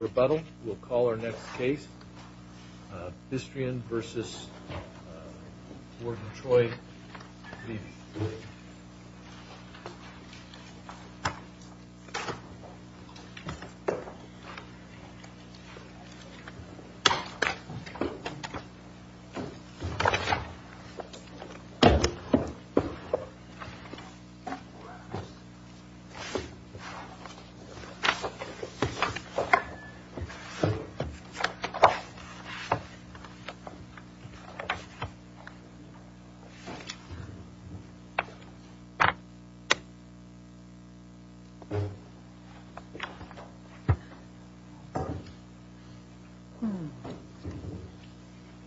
Rebuttal, we'll call our next case, Bistrian v. Warden Troy Levi.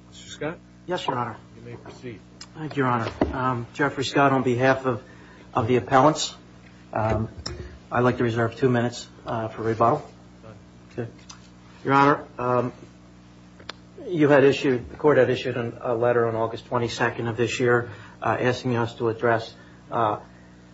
Mr. Scott? Yes, Your Honor. You may proceed. Thank you, Your Honor. Jeffrey Scott, on Your Honor, you had issued, the Court had issued a letter on August 22nd of this year asking us to address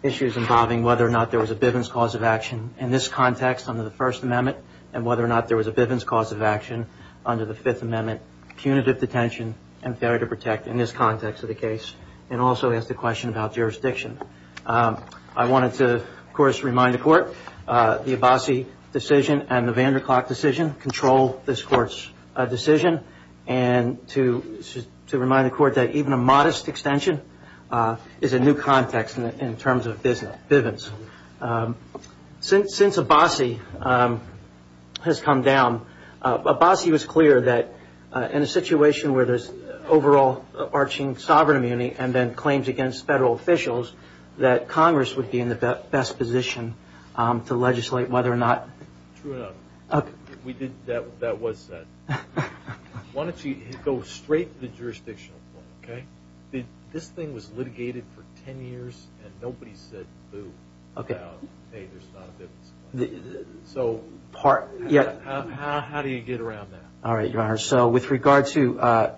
issues involving whether or not there was a Bivens cause of action in this context under the First Amendment, and whether or not there was a Bivens cause of action under the Fifth Amendment, punitive detention, and failure to protect in this context of the case, and also asked a question about jurisdiction. I wanted to, of course, remind the Court the Abassi decision and the Vanderklak decision control this Court's decision, and to remind the Court that even a modest extension is a new context in terms of Bivens. Since Abassi has come down, Abassi was clear that in a situation where there's overall arching sovereign immunity and then claims against federal officials, that Congress would be in the best position to legislate whether or not. True enough. That was said. Why don't you go straight to the jurisdictional point, okay? This thing was litigated for 10 years, and nobody said boo about, hey, there's not a Bivens. So how do you get around that? All right, Your Honor. So with regard to,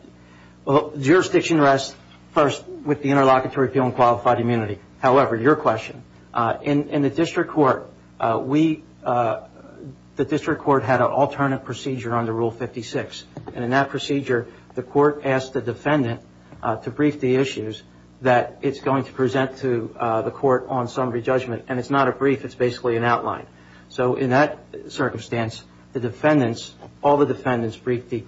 well, jurisdiction rests first with the jurisdiction. In the district court, we, the district court had an alternate procedure under Rule 56. And in that procedure, the court asked the defendant to brief the issues that it's going to present to the court on summary judgment. And it's not a brief. It's basically an outline. So in that circumstance, the defendants, all the defendants briefed the,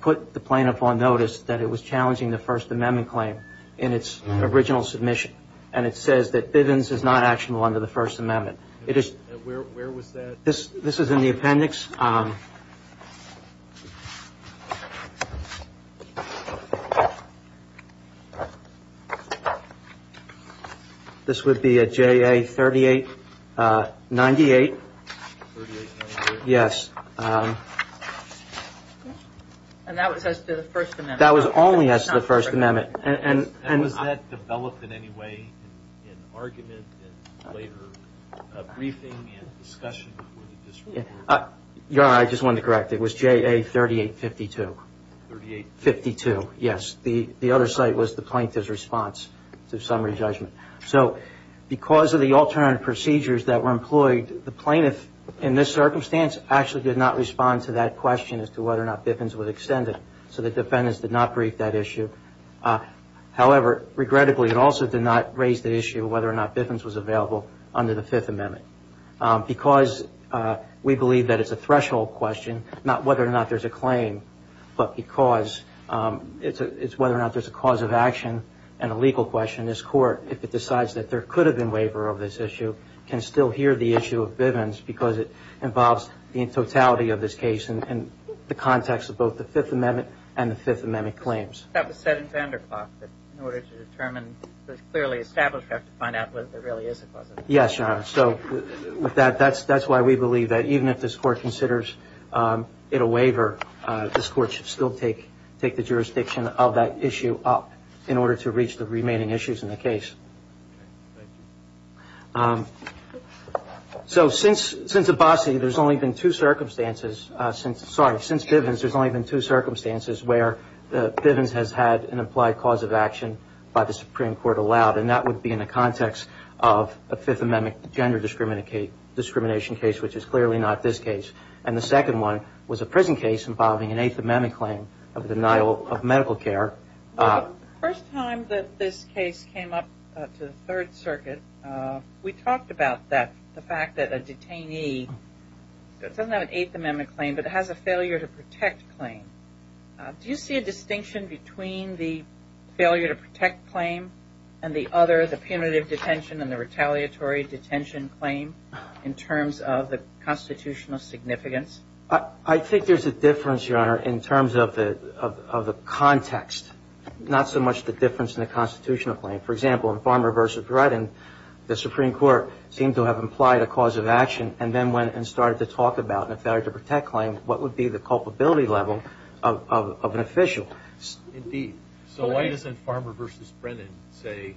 put the plaintiff on notice that it was challenging the First Amendment claim in its original submission. And it says that Bivens is not actionable under the First Amendment. It is. Where was that? This is in the appendix. This would be a JA 3898. Yes. And that was only as to the First Amendment. That was only as to the First Amendment. And was that developed in any way in argument in later briefing and discussion before the district court? Your Honor, I just wanted to correct. It was JA 3852. 3852. Yes. The other site was the plaintiff's response to summary judgment. So because of the alternate procedures that were employed, the plaintiff in this circumstance actually did not respond to that question as to whether or not Bivens was extended. So the defendants did not brief that issue. However, regrettably, it also did not raise the issue of whether or not Bivens was available under the Fifth Amendment. Because we believe that it's a threshold question, not whether or not there's a claim, but because it's whether or not there's a cause of action and a legal question, this court, if it decides that there could have been waiver of this issue, can still hear the issue of Bivens because it involves the totality of this case and the context of both the Fifth Amendment and the Fifth Amendment claims. That was said in Vanderhoff, that in order to determine what's clearly established, we have to find out what really is a cause of action. Yes, Your Honor. So with that, that's why we believe that even if this court considers it a waiver, this court should still take the jurisdiction of that issue up in order to reach the remaining issues in the case. So since Abbasi, there's only been two circumstances, sorry, since Bivens, there's only been two circumstances where Bivens has had an implied cause of action by the Supreme Court allowed. And that would be in the context of a Fifth Amendment gender discrimination case, which is clearly not this case. And the second one was a prison case involving an Eighth Amendment claim of denial of medical care. The first time that this case came up to the Third Circuit, we talked about that, the fact that a detainee, it doesn't have an Eighth Amendment claim, but it has a failure to protect claim. Do you see a distinction between the failure to protect claim and the other, the punitive detention and the retaliatory detention claim in terms of the constitutional significance? I think there's a difference, Your Honor, in terms of the context, not so much the difference in the constitutional claim. For example, in Farmer v. Brennan, the Supreme Court seemed to have implied a cause of action and then went and started to talk about a failure to protect claim, what would be the culpability level of an official. Indeed. So why doesn't Farmer v. Brennan say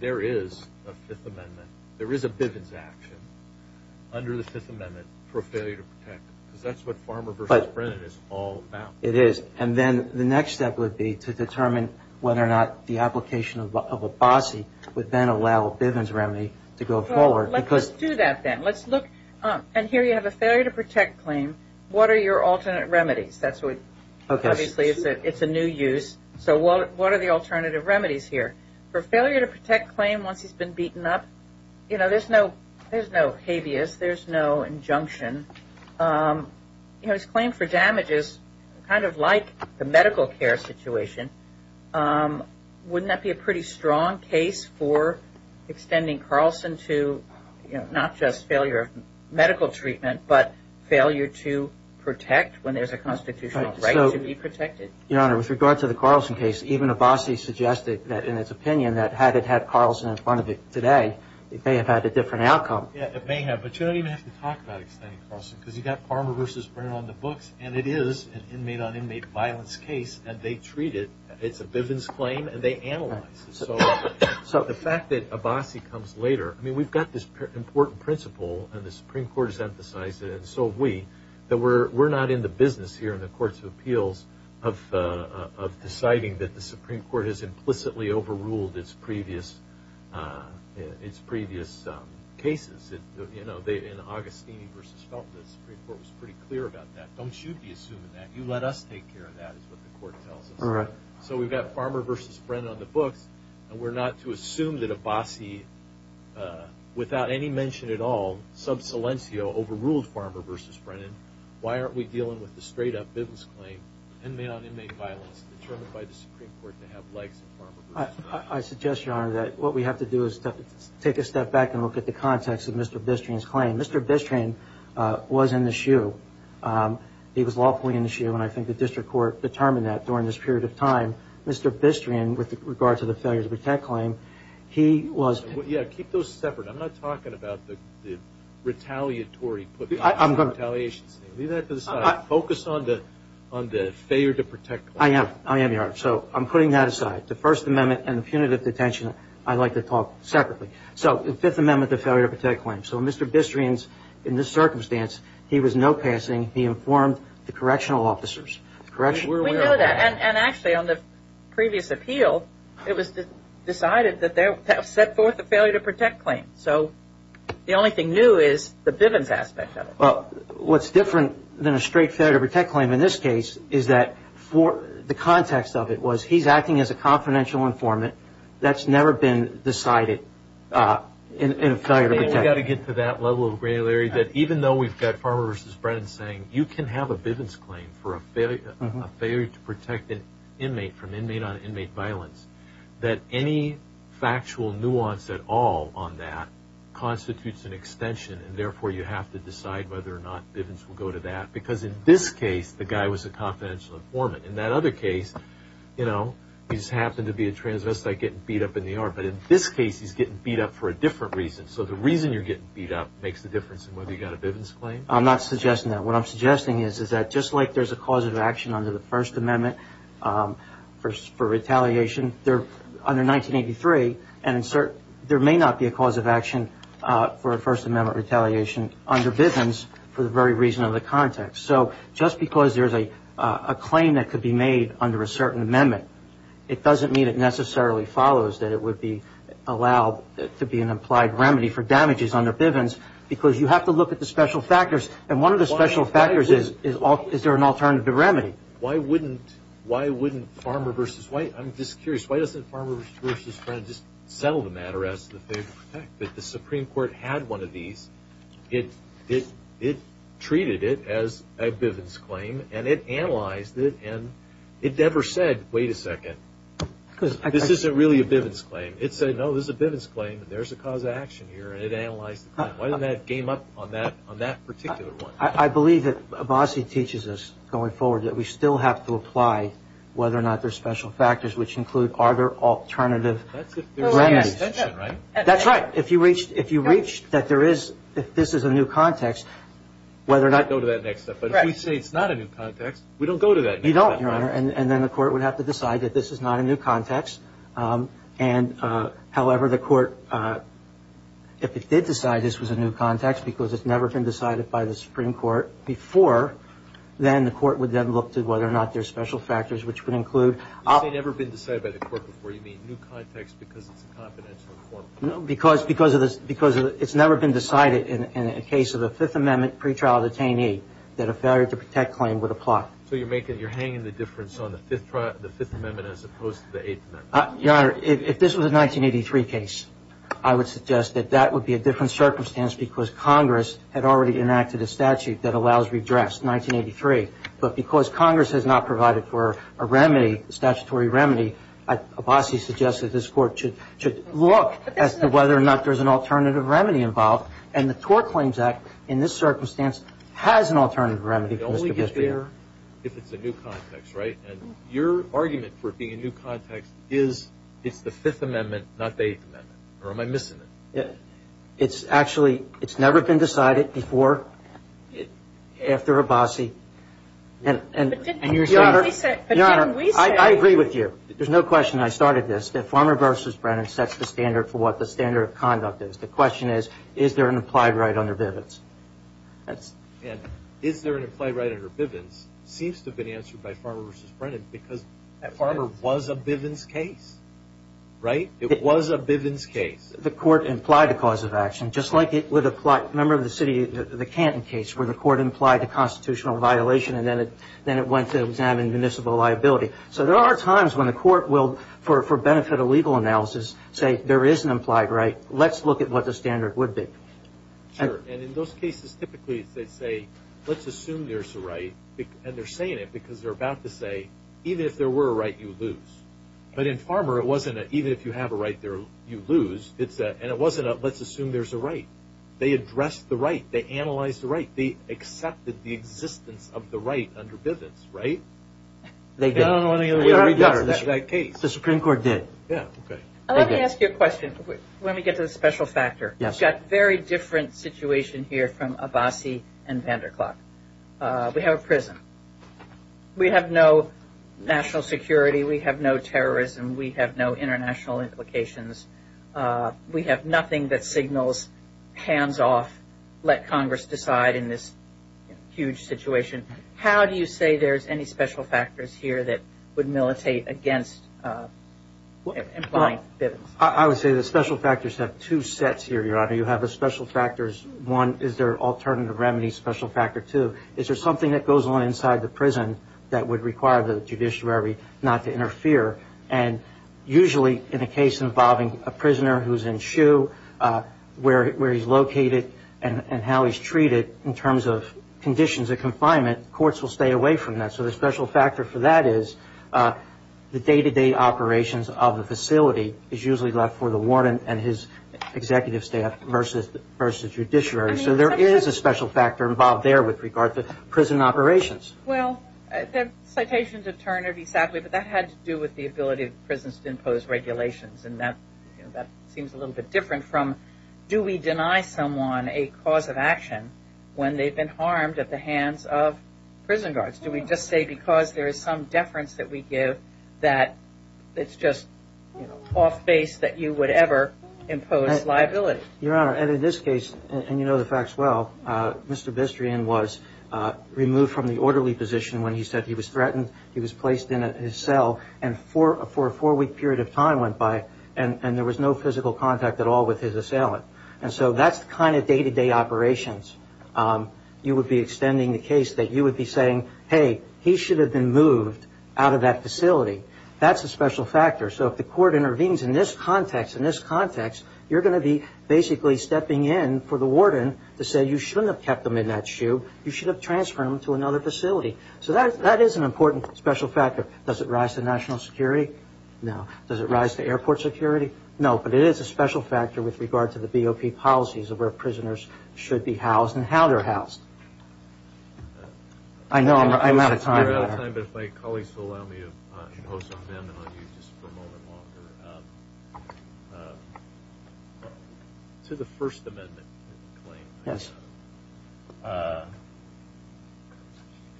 there is a Fifth Amendment, there is a Bivens action under the Fifth Amendment for failure to protect? Because that's what the next step would be to determine whether or not the application of a bossy would then allow Bivens remedy to go forward. Let's do that then. Let's look, and here you have a failure to protect claim. What are your alternate remedies? That's what, obviously, it's a new use. So what are the alternative remedies here? For failure to protect claim once he's been beaten up, you know, there's no habeas, there's no injunction. You know, his claim for damage is kind of like the medical care situation. Wouldn't that be a pretty strong case for extending Carlson to, you know, not just failure of medical treatment, but failure to protect when there's a constitutional right to be protected? Your Honor, with regard to the Carlson case, even a bossy suggested that, in its opinion, that had it had Carlson in front of it today, it may have had a different outcome. Yeah, it may have, but you don't even have to talk about extending Carlson, because you've got Farmer v. Brennan on the books, and it is an inmate-on-inmate violence case, and they treat it, it's a Bivens claim, and they analyze it. So the fact that a bossy comes later, I mean, we've got this important principle, and the Supreme Court has emphasized it, and so have we, that we're not in the business here in the Courts of Appeals of deciding that the Supreme Court has implicitly overruled its previous cases. You know, in Agostini v. Felton, the Supreme Court was pretty clear about that. Don't you be assuming that. You let us take care of that, is what the Court tells us. So we've got Farmer v. Brennan on the books, and we're not to assume that a bossy, without any mention at all, sub silencio, overruled Farmer v. Brennan. Why aren't we dealing with the straight-up Bivens claim, inmate-on-inmate violence, determined by the Supreme Court to have legs in Farmer v. Brennan. I suggest, Your Honor, that what we have to do is take a step back and look at the context of Mr. Bistrian's claim. Mr. Bistrian was in the shoe. He was lawfully in the shoe, and I think the District Court determined that during this period of time. Mr. Bistrian, with regard to the failure-to-protect claim, he was... Yeah, keep those separate. I'm not talking about the retaliatory... I'm putting that aside. The First Amendment and the punitive detention, I'd like to talk separately. So the Fifth Amendment, the failure-to-protect claim. So Mr. Bistrian's, in this circumstance, he was no passing. He informed the correctional officers. We know that. And actually, on the previous appeal, it was decided that they would set forth the failure-to-protect claim. So the only thing new is the Bivens aspect of it. Well, what's different than a straight failure-to-protect claim in this case is that the context of it was he's acting as a confidential informant. That's never been decided in a failure-to-protect. We've got to get to that level of granularity, that even though we've got Farmer v. Brennan saying you can have a Bivens claim for a failure to protect an inmate from inmate-on-inmate violence, that any factual nuance at all on that constitutes an extension, and therefore you have to decide whether or not Bivens will go to that. Because in this case, the guy was a confidential informant. In that other case, you know, he just happened to be a transvestite getting beat up in the yard. But in this case, he's getting beat up for a different reason. So the reason you're getting beat up makes the difference in whether you got a Bivens claim. I'm not suggesting that. What I'm suggesting is that just like there's a cause of action under the First Amendment for retaliation under 1983, and there may not be a cause of action under Bivens for the very reason of the context. So just because there's a claim that could be made under a certain amendment, it doesn't mean it necessarily follows that it would be allowed to be an implied remedy for damages under Bivens, because you have to look at the special factors. And one of the special factors is, is there an alternative remedy? Why wouldn't Farmer v. Brennan, I'm just curious, why doesn't Farmer v. Brennan just settle the matter as to the favor to protect? If the Supreme Court had one of these, it treated it as a Bivens claim, and it analyzed it, and it never said, wait a second, this isn't really a Bivens claim. It said, no, this is a Bivens claim, and there's a cause of action here, and it analyzed the claim. Why didn't that game up on that particular one? I believe that Abbasi teaches us going forward that we still have to apply whether or not there's special factors, which include are there alternative remedies? That's if there's a new extension, right? That's right. If you reached, if you reached that there is, if this is a new context, whether or not- We'll go to that next step. But if we say it's not a new context, we don't go to that next step. You don't, Your Honor. And then the court would have to decide that this is not a new context. And however, the court, if it did decide this was a new context, because it's never been decided by the Supreme Court before, then the court would then look to whether or not there's special factors, which would include- You say never been decided by the court before. You mean new context because it's a confidential form? No, because, because of the, because it's never been decided in a case of a Fifth Amendment pretrial detainee that a failure to protect claim would apply. So you're making, you're hanging the difference on the Fifth, the Fifth Amendment as opposed to the Eighth Amendment? Your Honor, if this was a 1983 case, I would suggest that that would be a different circumstance because Congress had already enacted a statute that allows redress, 1983. But because Congress has not provided for a remedy, a statutory remedy, Abbasi suggests that this court should look as to whether or not there's an alternative remedy involved. And the Tort Claims Act, in this circumstance, has an alternative remedy for Mr. Bisbee. It only gets better if it's a new context, right? And your argument for it being a new context is it's the Fifth Amendment, not the Eighth Amendment. Or am I missing it? It's actually, it's never been decided before, after Abbasi. But didn't we say? Your Honor, I agree with you. There's no question I started this, that Farmer v. Brennan sets the standard for what the standard of conduct is. The question is, is there an implied right under Bivens? And is there an implied right under Bivens seems to have been answered by Farmer v. Brennan because Farmer was a Bivens case, right? It was a Bivens case. The court implied the cause of action, just like it would apply, remember the city, the constitutional violation. And then it went to examine municipal liability. So there are times when the court will, for benefit of legal analysis, say there is an implied right. Let's look at what the standard would be. Sure. And in those cases, typically they say, let's assume there's a right. And they're saying it because they're about to say, even if there were a right, you lose. But in Farmer, it wasn't an even if you have a right, you lose. And it wasn't a let's assume there's a right. They addressed the right. They analyzed the right. They accepted the existence of the right under Bivens, right? They did. We got that case. The Supreme Court did. Yeah, okay. Let me ask you a question. Let me get to the special factor. Yes. We've got a very different situation here from Abbasi and Vanderklag. We have a prison. We have no national security. We have no terrorism. We have no international implications. We have nothing that signals hands off, let Congress decide in this huge situation. How do you say there's any special factors here that would militate against implying Bivens? I would say the special factors have two sets here, Your Honor. You have the special factors, one is their alternative remedy special factor two. Is there something that goes on inside the prison that would require the judiciary not to interfere? And usually in a case involving a prisoner who's in shoe, where he's located, and how he's treated in terms of conditions of confinement, courts will stay away from that. So the special factor for that is the day-to-day operations of the facility is usually left for the warden and his executive staff versus judiciary. So there is a special factor involved there with regard to prison operations. Well, the citations of Turner be sadly, but that had to do with the ability of prisons to impose regulations. And that seems a little bit different from, do we deny someone a cause of action when they've been harmed at the hands of prison guards? Do we just say because there is some deference that we give that it's just off base that you would ever impose liability? Your Honor, and in this case, and you know the facts well, Mr. Bistrian was removed from the orderly position when he said he was threatened. He was placed in his cell and for a four week period of time went by and there was no physical contact at all with his assailant. And so that's the kind of day-to-day operations. You would be extending the case that you would be saying, hey, he should have been moved out of that facility. That's a special factor. So if the court intervenes in this context, in this context, you're going to be basically stepping in for the warden to say you shouldn't have kept him in that shoe. You should have transferred him to another facility. So that is an important special factor. Does it rise to national security? No. Does it rise to airport security? No. But it is a special factor with regard to the BOP policies of where prisoners should be housed and how they're housed. I know I'm out of time. I know we're out of time, but if my colleagues will allow me to impose an amendment on you just for a moment longer. To the First Amendment claim. Yes.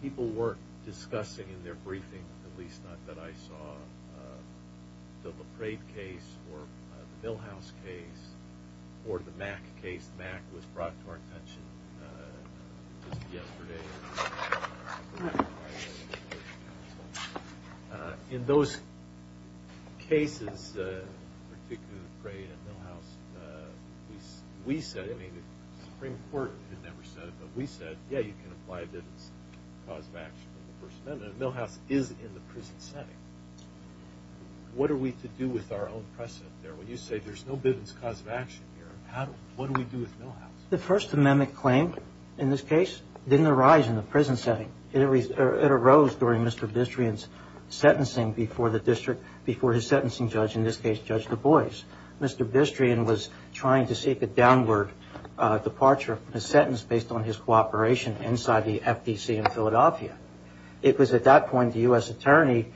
People were discussing in their briefing, at least not that I saw, the LaPrade case or the Milhouse case or the Mack case. Mack was brought to our attention just yesterday. In those cases, particularly the Prade and Milhouse, we said, I mean the Supreme Court had never said it, but we said, yeah, you can apply Bivens cause of action from the First Amendment. Milhouse is in the prison setting. What are we to do with our own precedent there? When you say there's no Bivens cause of action here, what do we do with Milhouse? The First Amendment claim, in this case, didn't arise in the prison setting. It arose during Mr. Bistrian's sentencing before the district, before his sentencing judge, in this case, Judge Du Bois. Mr. Bistrian was trying to seek a downward departure from his sentence based on his cooperation inside the FDC in Philadelphia. It was at that point the U.S. Attorney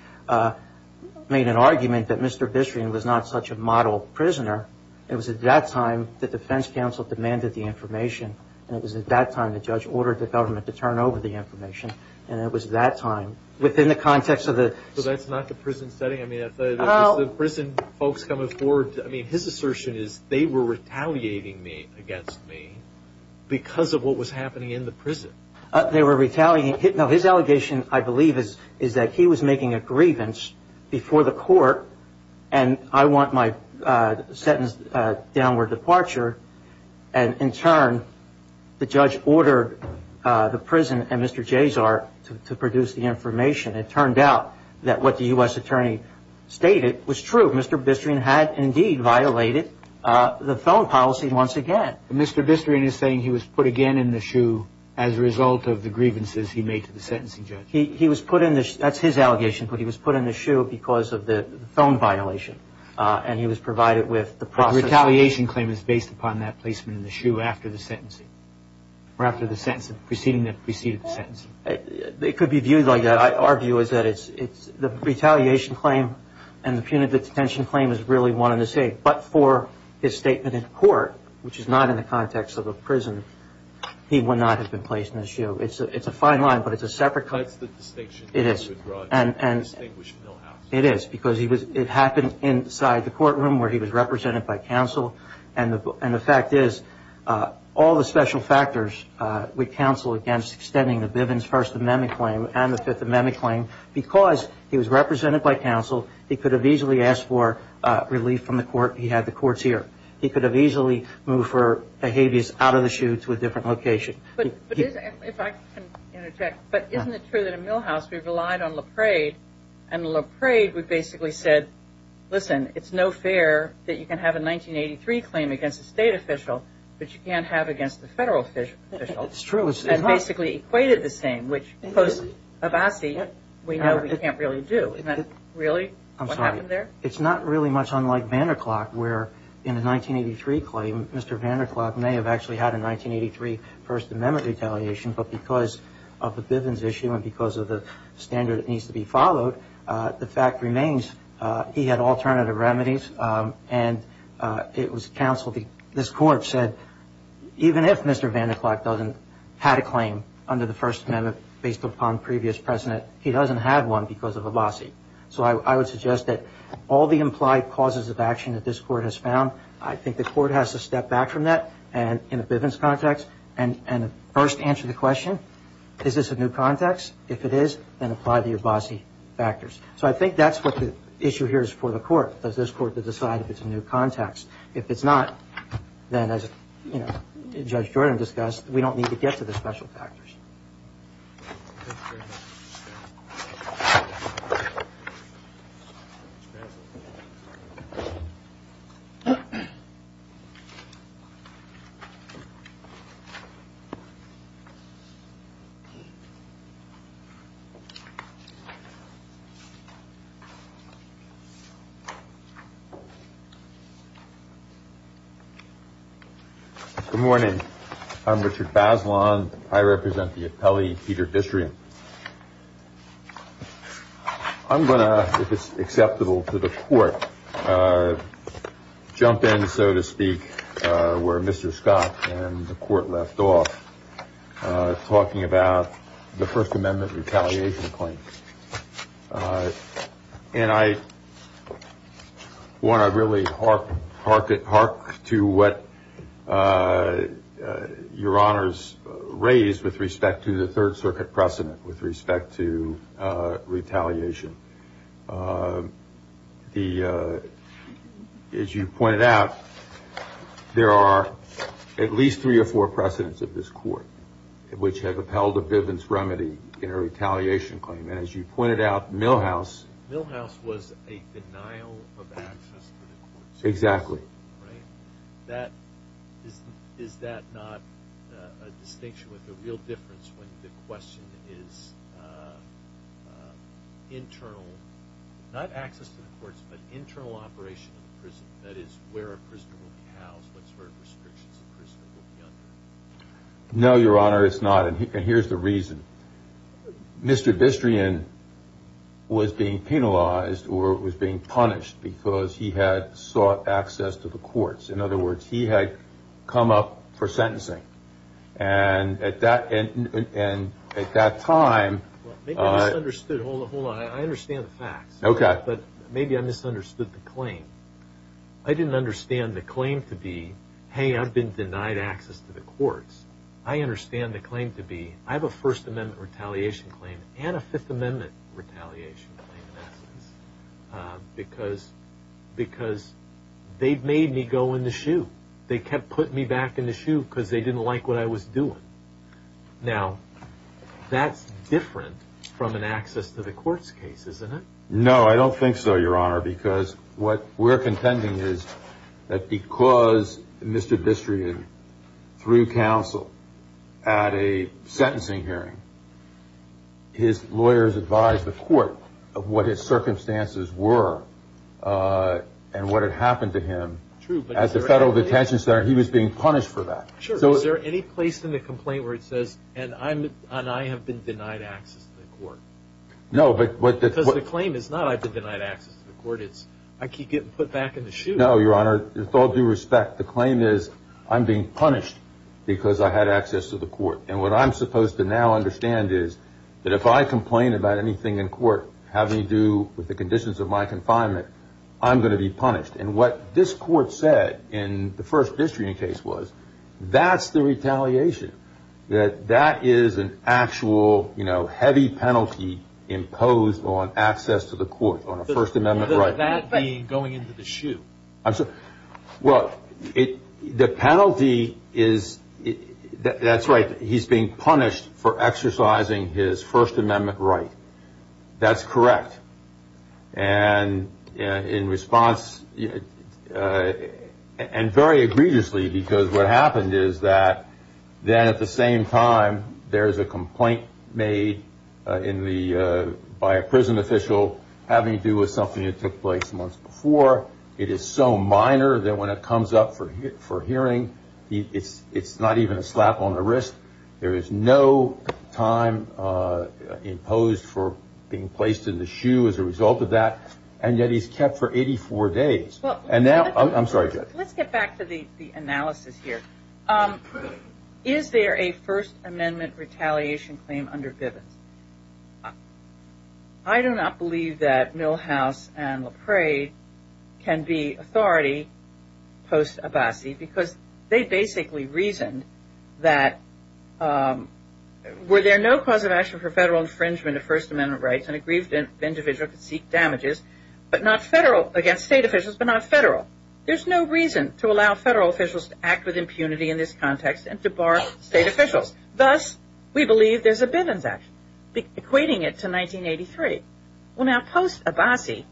made an argument that Mr. Bistrian was not such a model prisoner. It was at that time the defense counsel demanded the information. And it was at that time the judge ordered the government to turn over the information. And it was at that time, within the context of the... So that's not the prison setting? I mean, is the prison folks coming forward? I mean, his assertion is, they were retaliating against me because of what was happening in the prison. They were retaliating. No, his allegation, I believe, is that he was making a grievance before the court, and I want my sentence downward departure. And in turn, the judge ordered the prison and Mr. Jezart to produce the information. It turned out that what the U.S. Attorney stated was true. Mr. Bistrian had indeed violated the phone policy once again. Mr. Bistrian is saying he was put again in the shoe as a result of the grievances he made to the sentencing judge? He was put in the shoe. That's his allegation. But he was put in the shoe because of the phone violation. And he was provided with the process... The retaliation claim is based upon that placement in the shoe after the sentencing? Or after the sentencing? Preceding the sentencing? It could be viewed like that. Our view is that the retaliation claim and the punitive detention claim is really one and the same. But for his statement in court, which is not in the context of a prison, he would not have been placed in the shoe. It's a fine line, but it's a separate... But it's the distinction... It is. ...that you would draw a distinguished millhouse. It is. Because it happened inside the courtroom where he was represented by counsel. And the fact is, all the special factors would counsel against extending the Bivens First Amendment claim and the Fifth Amendment claim. Because he was represented by counsel, he could have easily asked for relief from the court. He had the courts here. He could have easily moved for the habeas out of the shoe to a different location. If I can interject, but isn't it true that a millhouse, we relied on LaPrade, and LaPrade would basically said, listen, it's no fair that you can have a 1983 claim against a state official, but you can't have against a federal official. It's true. That basically equated the same, which post-Abbasi, we know we can't really do. Isn't that really what happened there? I'm sorry. It's not really much unlike Vanderklok, where in a 1983 claim, Mr. Vanderklok may have actually had a 1983 First Amendment retaliation, but because of the Bivens issue and because of the standard that needs to be followed, the fact remains he had alternative remedies. And it was counsel, this court said, even if Mr. Vanderklok doesn't have a claim under the First Amendment based upon previous precedent, he doesn't have one because of Abbasi. So I would suggest that all the implied causes of action that this court has found, I think the court has to step back from that in a Bivens context and first answer the question, is this a new context? If it is, then apply the Abbasi factors. So I think that's what the issue here is for the court, is this court to decide if it's a new context. If it's not, then as Judge Jordan discussed, we don't need to get to the special factors. Thank you very much. Good morning. I'm Richard Bazelon. I represent the appellee, Peter Distria. I'm going to, if it's acceptable to the court, jump in, so to speak, where Mr. Scott and the court left off, talking about the First Amendment retaliation claim. And I want to really hark to what Your Honors raised with respect to the Third Circuit precedent with respect to retaliation. As you pointed out, there are at least three or four precedents of this court which have upheld a Bivens remedy in a retaliation claim. And as you pointed out, Milhouse... Milhouse was a denial of access to the courts. Is that not a distinction with a real difference when the question is internal, not access to the courts, but internal operation of the prison? That is, where a prisoner will be housed, what sort of restrictions the prisoner will be under. No, Your Honor, it's not. And here's the reason. Mr. Distria was being penalized or was being punished because he had sought access to the courts. In other words, he had come up for sentencing. And at that time... Maybe I misunderstood. Hold on. I understand the facts. Okay. But maybe I misunderstood the claim. I didn't understand the claim to be, hey, I've been denied access to the courts. I understand the claim to be, I have a First Amendment retaliation claim and a Fifth Amendment retaliation claim, in essence, because they've made me go in the shoe. They kept putting me back in the shoe because they didn't like what I was doing. Now, that's different from an access to the courts case, isn't it? No, I don't think so, Your Honor, because what we're contending is that because Mr. Distria threw counsel at a sentencing hearing, his lawyers advised the court of what his circumstances were and what had happened to him at the Federal Detention Center. He was being punished for that. Sure. Is there any place in the complaint where it says, and I have been denied access to the court? No, but... Because the claim is not I've been denied access to the court. It's I keep getting put back in the shoe. No, Your Honor, with all due respect, the claim is I'm being punished because I had access to the court. And what I'm supposed to now understand is that if I complain about anything in court having to do with the conditions of my confinement, I'm going to be punished. And what this court said in the first Distria case was, that's the retaliation. That that is an actual, you know, heavy penalty imposed on access to the court on a First Amendment right. That being going into the shoe. Well, the penalty is, that's right, he's being punished for exercising his First Amendment right. That's correct. And in response, and very egregiously, because what happened is that then at the same time, there's a complaint made by a prison official having to do with something that took place months before. It is so minor that when it comes up for hearing, it's not even a slap on the wrist. There is no time imposed for being placed in the shoe as a result of that. And yet he's kept for 84 days. And now, I'm sorry. Let's get back to the analysis here. Is there a First Amendment retaliation claim under can be authority post-Abbasi because they basically reasoned that were there no cause of action for federal infringement of First Amendment rights, an aggrieved individual could seek damages but not federal, against state officials, but not federal. There's no reason to allow federal officials to act with impunity in this context and to bar state officials. Thus, we believe there's a Bivens Act, equating it to 1983. Well, now, post-Abbasi,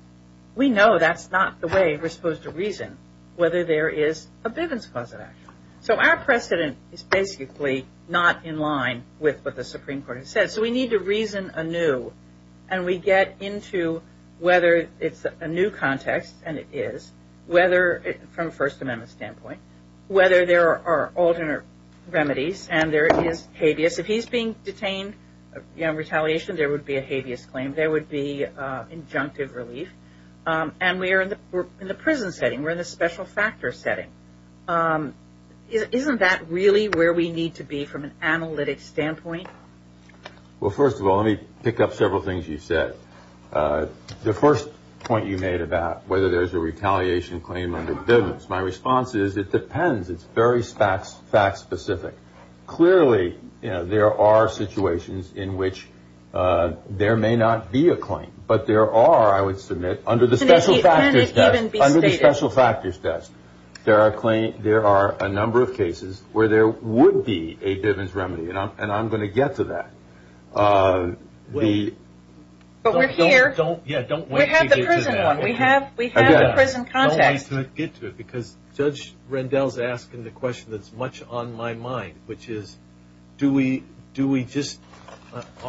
we know that's not the way we're supposed to reason whether there is a Bivens cause of action. So, our precedent is basically not in line with what the Supreme Court has said. So, we need to reason anew and we get into whether it's a new context, and it is, from a First Amendment standpoint, whether there are alternate remedies and there is habeas. If he's being detained in retaliation, there would be a habeas claim. There would be injunctive relief. And we're in the prison setting. We're in the special factors setting. Isn't that really where we need to be from an analytic standpoint? Well, first of all, let me pick up several things you said. The first point you made about whether there's a retaliation claim under Bivens. My response is, it depends. It's very fact-specific. Clearly, there are situations in which there may not be a claim, but there are, I would submit, under the special factors test, there are a number of cases where there would be a Bivens remedy. And I'm going to get to that. But we're here. We have the prison one. We have the prison context. Don't get to it, because Judge Rendell's asking the question that's much on my mind, which is,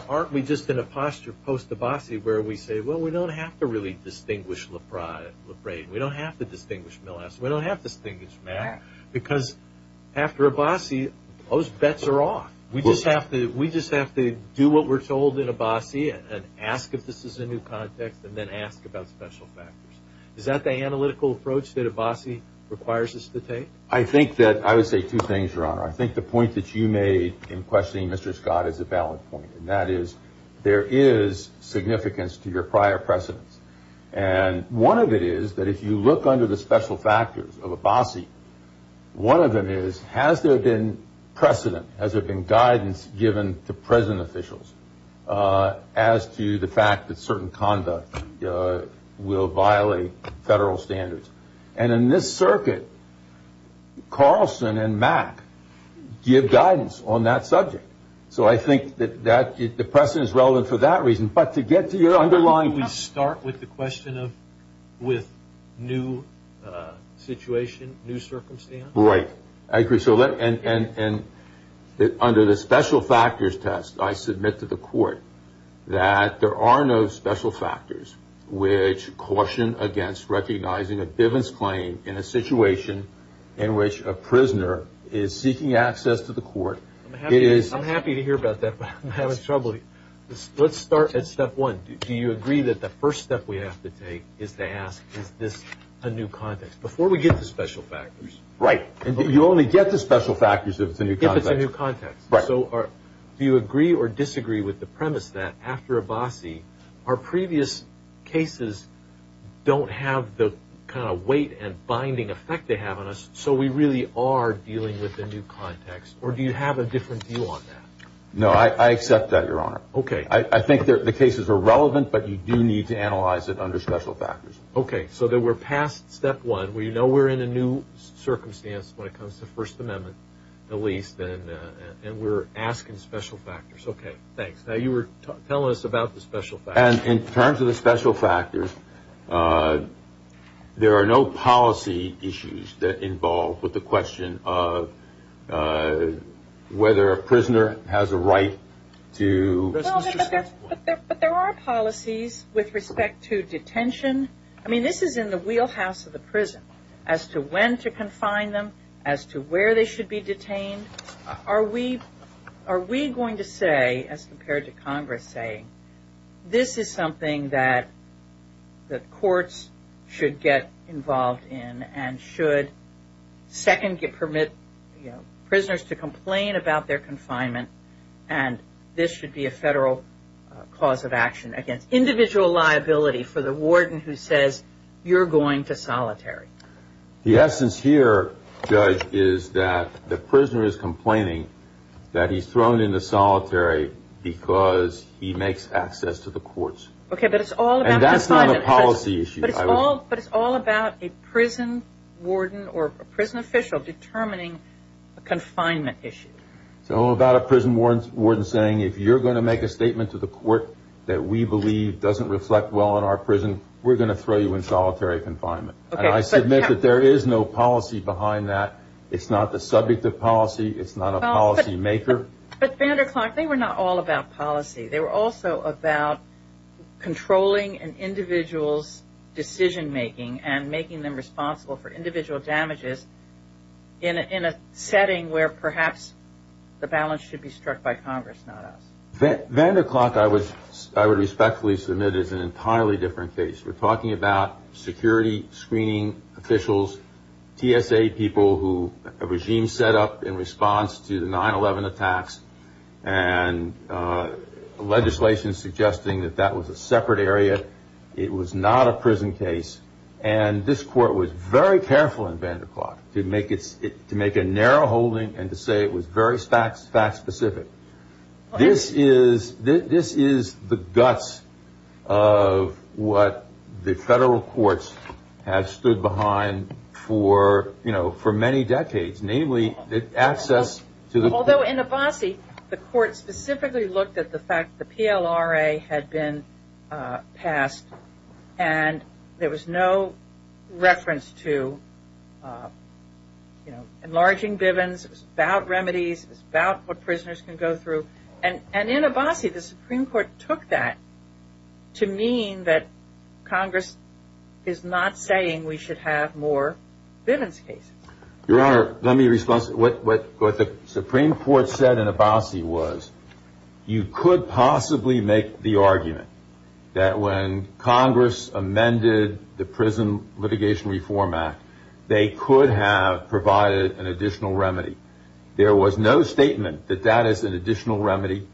aren't we just in a posture post-Abbasi where we say, well, we don't have to really distinguish We don't have to distinguish Millas. We don't have to distinguish Mack. Because after Abbasi, those bets are off. We just have to do what we're told in Abbasi and ask if this is a new context and then ask about special factors. Is that the analytical approach that Abbasi requires us to take? I would say two things, Your Honor. I think the point that you made in questioning Mr. Scott is a And one of it is that if you look under the special factors of Abbasi, one of them is, has there been precedent, has there been guidance given to prison officials as to the fact that certain conduct will violate federal standards? And in this circuit, Carlson and Mack give guidance on that subject. So I think that the precedent is relevant for that reason. But to get to your underlying question Can we start with the question of with new situation, new circumstance? Right. I agree. And under the special factors test, I submit to the court that there are no special factors which caution against recognizing a Bivens claim in a situation in which a prisoner is seeking access to the court. I'm happy to hear about that, but I'm having trouble. Let's start at step one. Do you agree that the first step we have to take is to ask is this a new context? Before we get to special factors. Right. You only get to special factors if it's a new context. If it's a new context. Do you agree or disagree with the premise that after Abbasi, our previous cases don't have the kind of weight and binding effect they have on us, so we really are dealing with a new context? Or do you have a different view on that? No, I accept that, Your Honor. Okay. I think the cases are relevant, but you do need to analyze it under special factors. Okay. So then we're past step one. We know we're in a new circumstance when it comes to First Amendment, at least, and we're asking special factors. Okay. Thanks. Now you were telling us about the special factors. And in terms of the special factors, there are no policy issues that involve the question of whether a prisoner has a right to But there are policies with respect to detention. I mean, this is in the wheelhouse of the prison, as to when to confine them, as to where they should be detained. Are we going to say, as compared to Congress saying, this is something that courts should get involved in and should second permit prisoners to complain about their confinement, and this should be a federal cause of action against individual liability for the warden who says you're going to solitary? The essence here, Judge, is that the prisoner is complaining that he's thrown into solitary because he makes access to the courts. Okay, but it's all about confinement. And that's not a policy issue. But it's all about a prison warden or a prison official determining a confinement issue. It's all about a prison warden saying, if you're going to make a statement to the court that we believe doesn't reflect well in our prison, we're going to throw you in solitary confinement. And I submit that there is no policy behind that. It's not the subject of policy. It's not a policymaker. But, Vanderklok, they were not all about policy. They were also about controlling an individual's decision-making and making them responsible for individual damages in a setting where perhaps the balance should be struck by Congress, not us. Vanderklok, I would respectfully submit, is an entirely different case. We're talking about security screening officials, TSA people who a regime set up in response to the 9-11 attacks, and legislation suggesting that that was a separate area. It was not a prison case. And this court was very careful in Vanderklok to make a narrow holding and to say it was very fact-specific. This is the guts of what the federal courts have stood behind for, you know, for many decades, namely access to the court. Although in Abbasi, the court specifically looked at the fact the PLRA had been passed, and there was no reference to, you know, enlarging Bivens. It was about remedies. It was about what prisoners can go through. And in Abbasi, the Supreme Court took that to mean that Congress is not saying we should have more Bivens cases. Your Honor, let me respond. What the Supreme Court said in Abbasi was you could possibly make the argument that when Congress amended the Prison Litigation Reform Act, they could have provided an additional remedy. There was no statement that that is an additional remedy.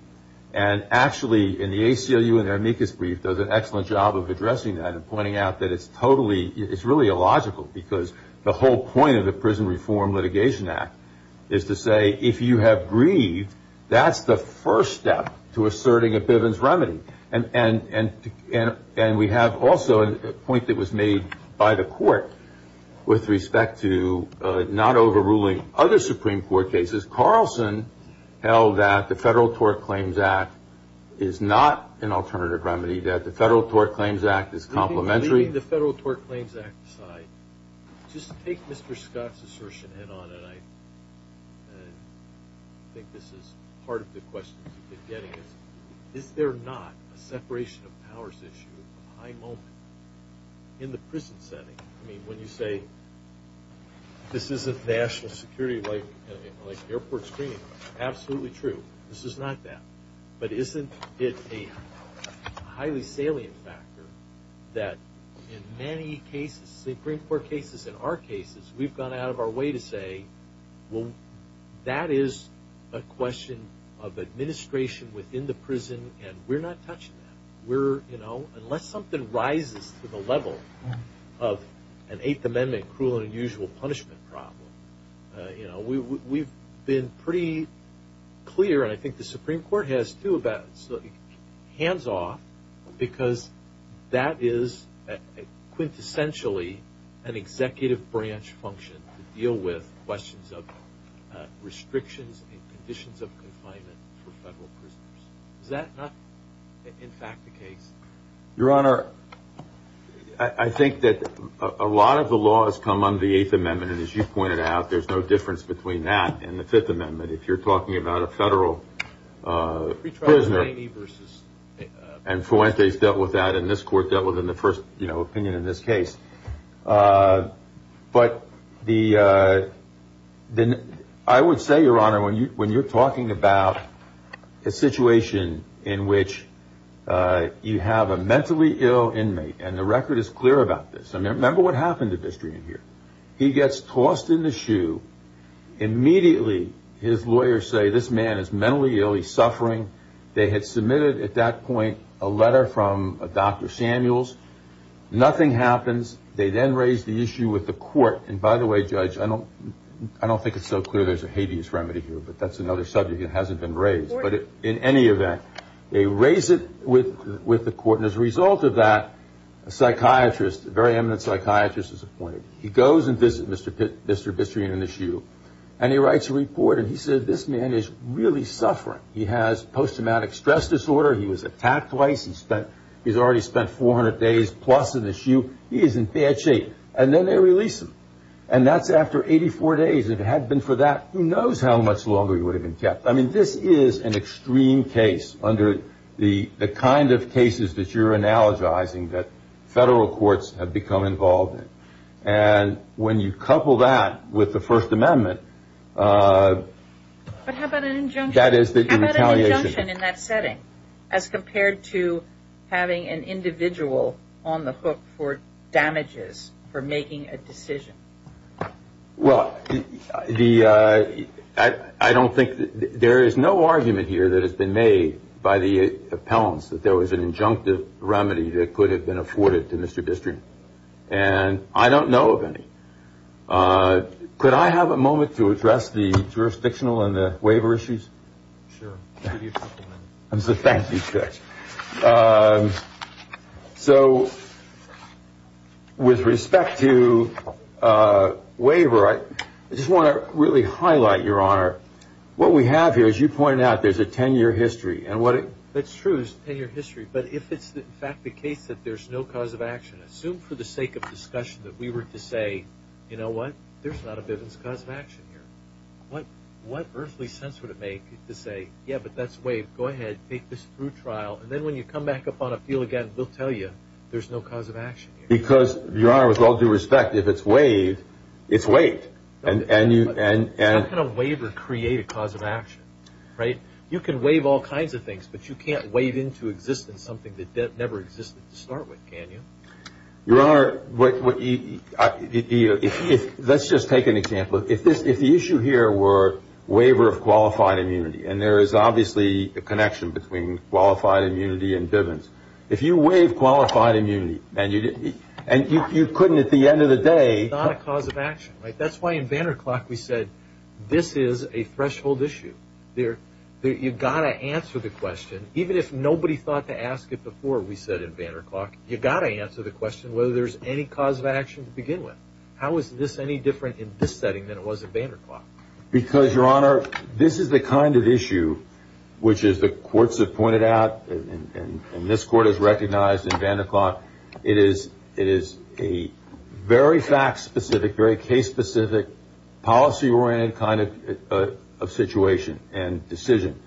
And actually, in the ACLU, in their amicus brief, does an excellent job of addressing that and pointing out that it's totally, it's really illogical because the whole point of the Prison Reform Litigation Act is to say, if you have grieved, that's the first step to asserting a Bivens remedy. And we have also a point that was made by the court with respect to not overruling other Supreme Court cases. Carlson held that the Federal Tort Claims Act is not an alternative remedy, that the Federal Tort Claims Act is complementary. Leaving the Federal Tort Claims Act aside, just take Mr. Scott's assertion head on, and I think this is part of the questions you've been getting is, is there not a separation of powers issue at a high moment in the prison setting? I mean, when you say this isn't national security like airport screening, absolutely true. This is not that. But isn't it a highly salient factor that in many cases, Supreme Court cases, in our cases, we've gone out of our way to say, well, that is a question of administration within the prison, and we're not touching that. We're, you know, unless something rises to the level of an Eighth Amendment cruel and unusual punishment problem, you know, we've been pretty clear, and I think the Supreme Court has too, about hands off, because that is quintessentially an executive branch function to deal with questions of restrictions and conditions of confinement for federal prisoners. Is that not, in fact, the case? Your Honor, I think that a lot of the laws come under the Eighth Amendment, and as you pointed out, there's no difference between that and the Fifth Amendment. If you're talking about a federal prisoner, and Fuentes dealt with that, and this Court dealt with it in the first, you know, opinion in this case. But I would say, Your Honor, when you're talking about a situation in which you have a mentally ill inmate, and the record is clear about this. Remember what happened to Bistrin here. He gets tossed in the shoe. Immediately, his lawyers say, this man is mentally ill. He's suffering. They had submitted at that point a letter from Dr. Samuels. Nothing happens. They then raise the issue with the Court. And by the way, Judge, I don't think it's so clear there's a habeas remedy here, but that's another subject that hasn't been raised. But in any event, they raise it with the Court, and as a result of that, a psychiatrist, a very eminent psychiatrist, is appointed. He goes and visits Mr. Bistrin in the shoe, and he writes a report, and he says, this man is really suffering. He has post-traumatic stress disorder. He was attacked twice. He's already spent 400 days plus in the shoe. He is in bad shape. And then they release him. And that's after 84 days. If it had been for that, who knows how much longer he would have been kept. I mean, this is an extreme case under the kind of cases that you're analogizing that federal courts have become involved in. And when you couple that with the First Amendment, that is the retaliation. As compared to having an individual on the hook for damages for making a decision. Well, I don't think there is no argument here that has been made by the appellants that there was an injunctive remedy that could have been afforded to Mr. Bistrin. And I don't know of any. Could I have a moment to address the jurisdictional and the waiver issues? Sure. I'll give you a couple minutes. Thank you, Judge. So with respect to waiver, I just want to really highlight, Your Honor, what we have here, as you pointed out, there's a 10-year history. That's true. It's a 10-year history. But if it's, in fact, the case that there's no cause of action, assume for the sake of discussion that we were to say, you know what, there's not a business cause of action here. What earthly sense would it make to say, yeah, but that's waived. Go ahead. Take this through trial. And then when you come back up on appeal again, we'll tell you there's no cause of action here. Because, Your Honor, with all due respect, if it's waived, it's waived. It's not going to waive or create a cause of action, right? You can waive all kinds of things, but you can't waive into existence something that never existed to start with, can you? Your Honor, let's just take an example. If the issue here were waiver of qualified immunity, and there is obviously a connection between qualified immunity and Bivens, if you waive qualified immunity and you couldn't at the end of the day... It's not a cause of action, right? That's why in Vanderklok we said this is a threshold issue. You've got to answer the question. Even if nobody thought to ask it before we said in Vanderklok, you've got to answer the question whether there's any cause of action to begin with. How is this any different in this setting than it was in Vanderklok? Because, Your Honor, this is the kind of issue which the courts have pointed out, and this Court has recognized in Vanderklok, it is a very fact-specific, very case-specific, policy-oriented kind of situation and decision.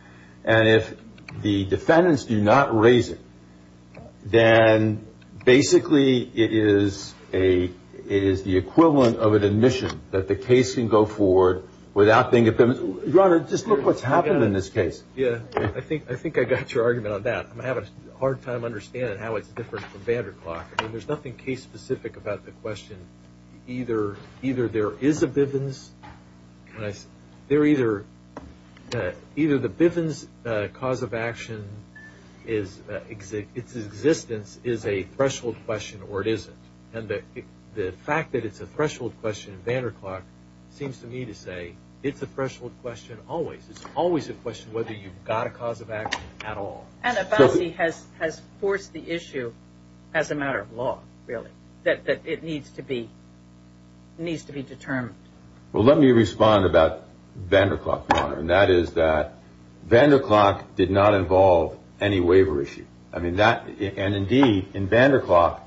And if the defendants do not raise it, then basically it is the equivalent of an admission that the case can go forward without being... Your Honor, just look what's happened in this case. Yeah, I think I got your argument on that. I'm having a hard time understanding how it's different from Vanderklok. I mean, there's nothing case-specific about the question. Either there is a Bivens... Either the Bivens cause of action, its existence, is a threshold question or it isn't. And the fact that it's a threshold question in Vanderklok seems to me to say it's a threshold question always. It's always a question whether you've got a cause of action at all. And a policy has forced the issue as a matter of law, really, that it needs to be determined. Well, let me respond about Vanderklok, Your Honor, and that is that Vanderklok did not involve any waiver issue. I mean, that... and indeed, in Vanderklok,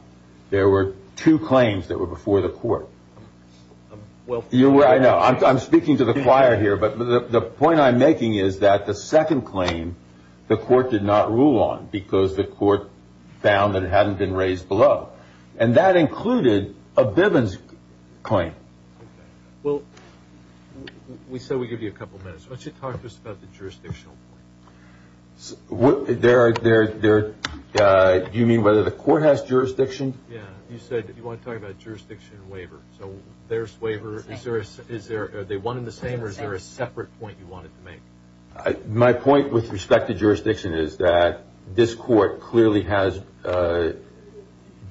there were two claims that were before the Court. Well... I know. I'm speaking to the choir here, but the point I'm making is that the second claim the Court did not rule on because the Court found that it hadn't been raised below. And that included a Bivens claim. Okay. Well, we said we'd give you a couple minutes. Why don't you talk to us about the jurisdictional point? There... do you mean whether the Court has jurisdiction? Yeah. You said you want to talk about jurisdiction and waiver. So there's waiver... Same. Is that one and the same, or is there a separate point you wanted to make? My point with respect to jurisdiction is that this Court clearly has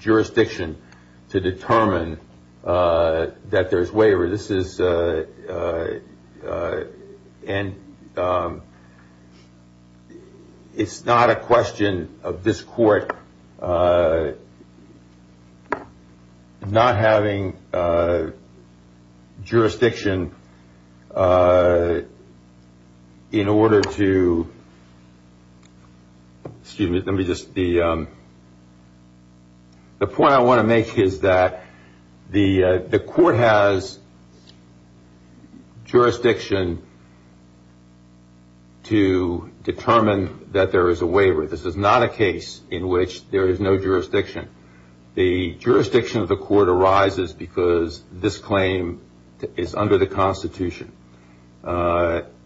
jurisdiction to determine that there's waiver. This is... and it's not a question of this Court not having jurisdiction in order to... jurisdiction to determine that there is a waiver. This is not a case in which there is no jurisdiction. The jurisdiction of the Court arises because this claim is under the Constitution.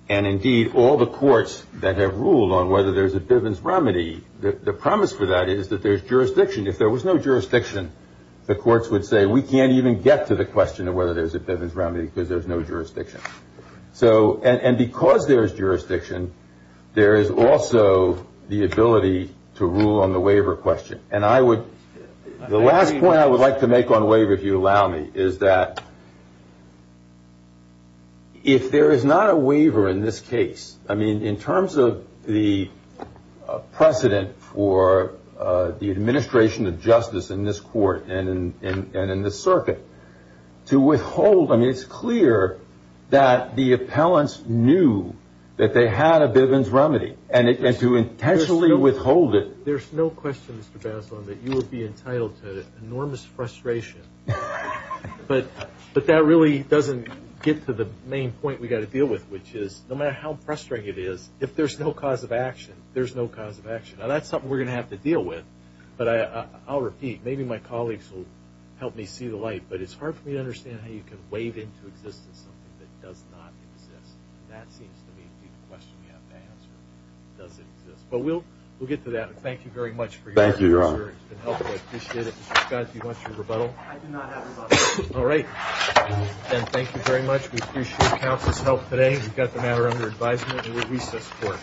And indeed, all the courts that have ruled on whether there's a Bivens remedy, the promise for that is that there's jurisdiction. If there was no jurisdiction, the courts would say, we can't even get to the question of whether there's a Bivens remedy because there's no jurisdiction. And because there is jurisdiction, there is also the ability to rule on the waiver question. And I would... the last point I would like to make on waiver, if you allow me, is that if there is not a waiver in this case... I mean, in terms of the precedent for the administration of justice in this Court and in the circuit, to withhold... I mean, it's clear that the appellants knew that they had a Bivens remedy. And to intentionally withhold it... There's no question, Mr. Bazelon, that you would be entitled to enormous frustration But that really doesn't get to the main point we've got to deal with, which is no matter how frustrating it is, if there's no cause of action, there's no cause of action. Now, that's something we're going to have to deal with, but I'll repeat. Maybe my colleagues will help me see the light, but it's hard for me to understand how you can waive into existence something that does not exist. And that seems to me to be the question we have to answer, does it exist. But we'll get to that. Thank you very much for your... Thank you, Your Honor. It's been helpful. I appreciate it. Mr. Scott, do you want your rebuttal? I do not have a rebuttal. All right. Again, thank you very much. We appreciate counsel's help today. We've got the matter under advisement and we'll recess for it. Thank you.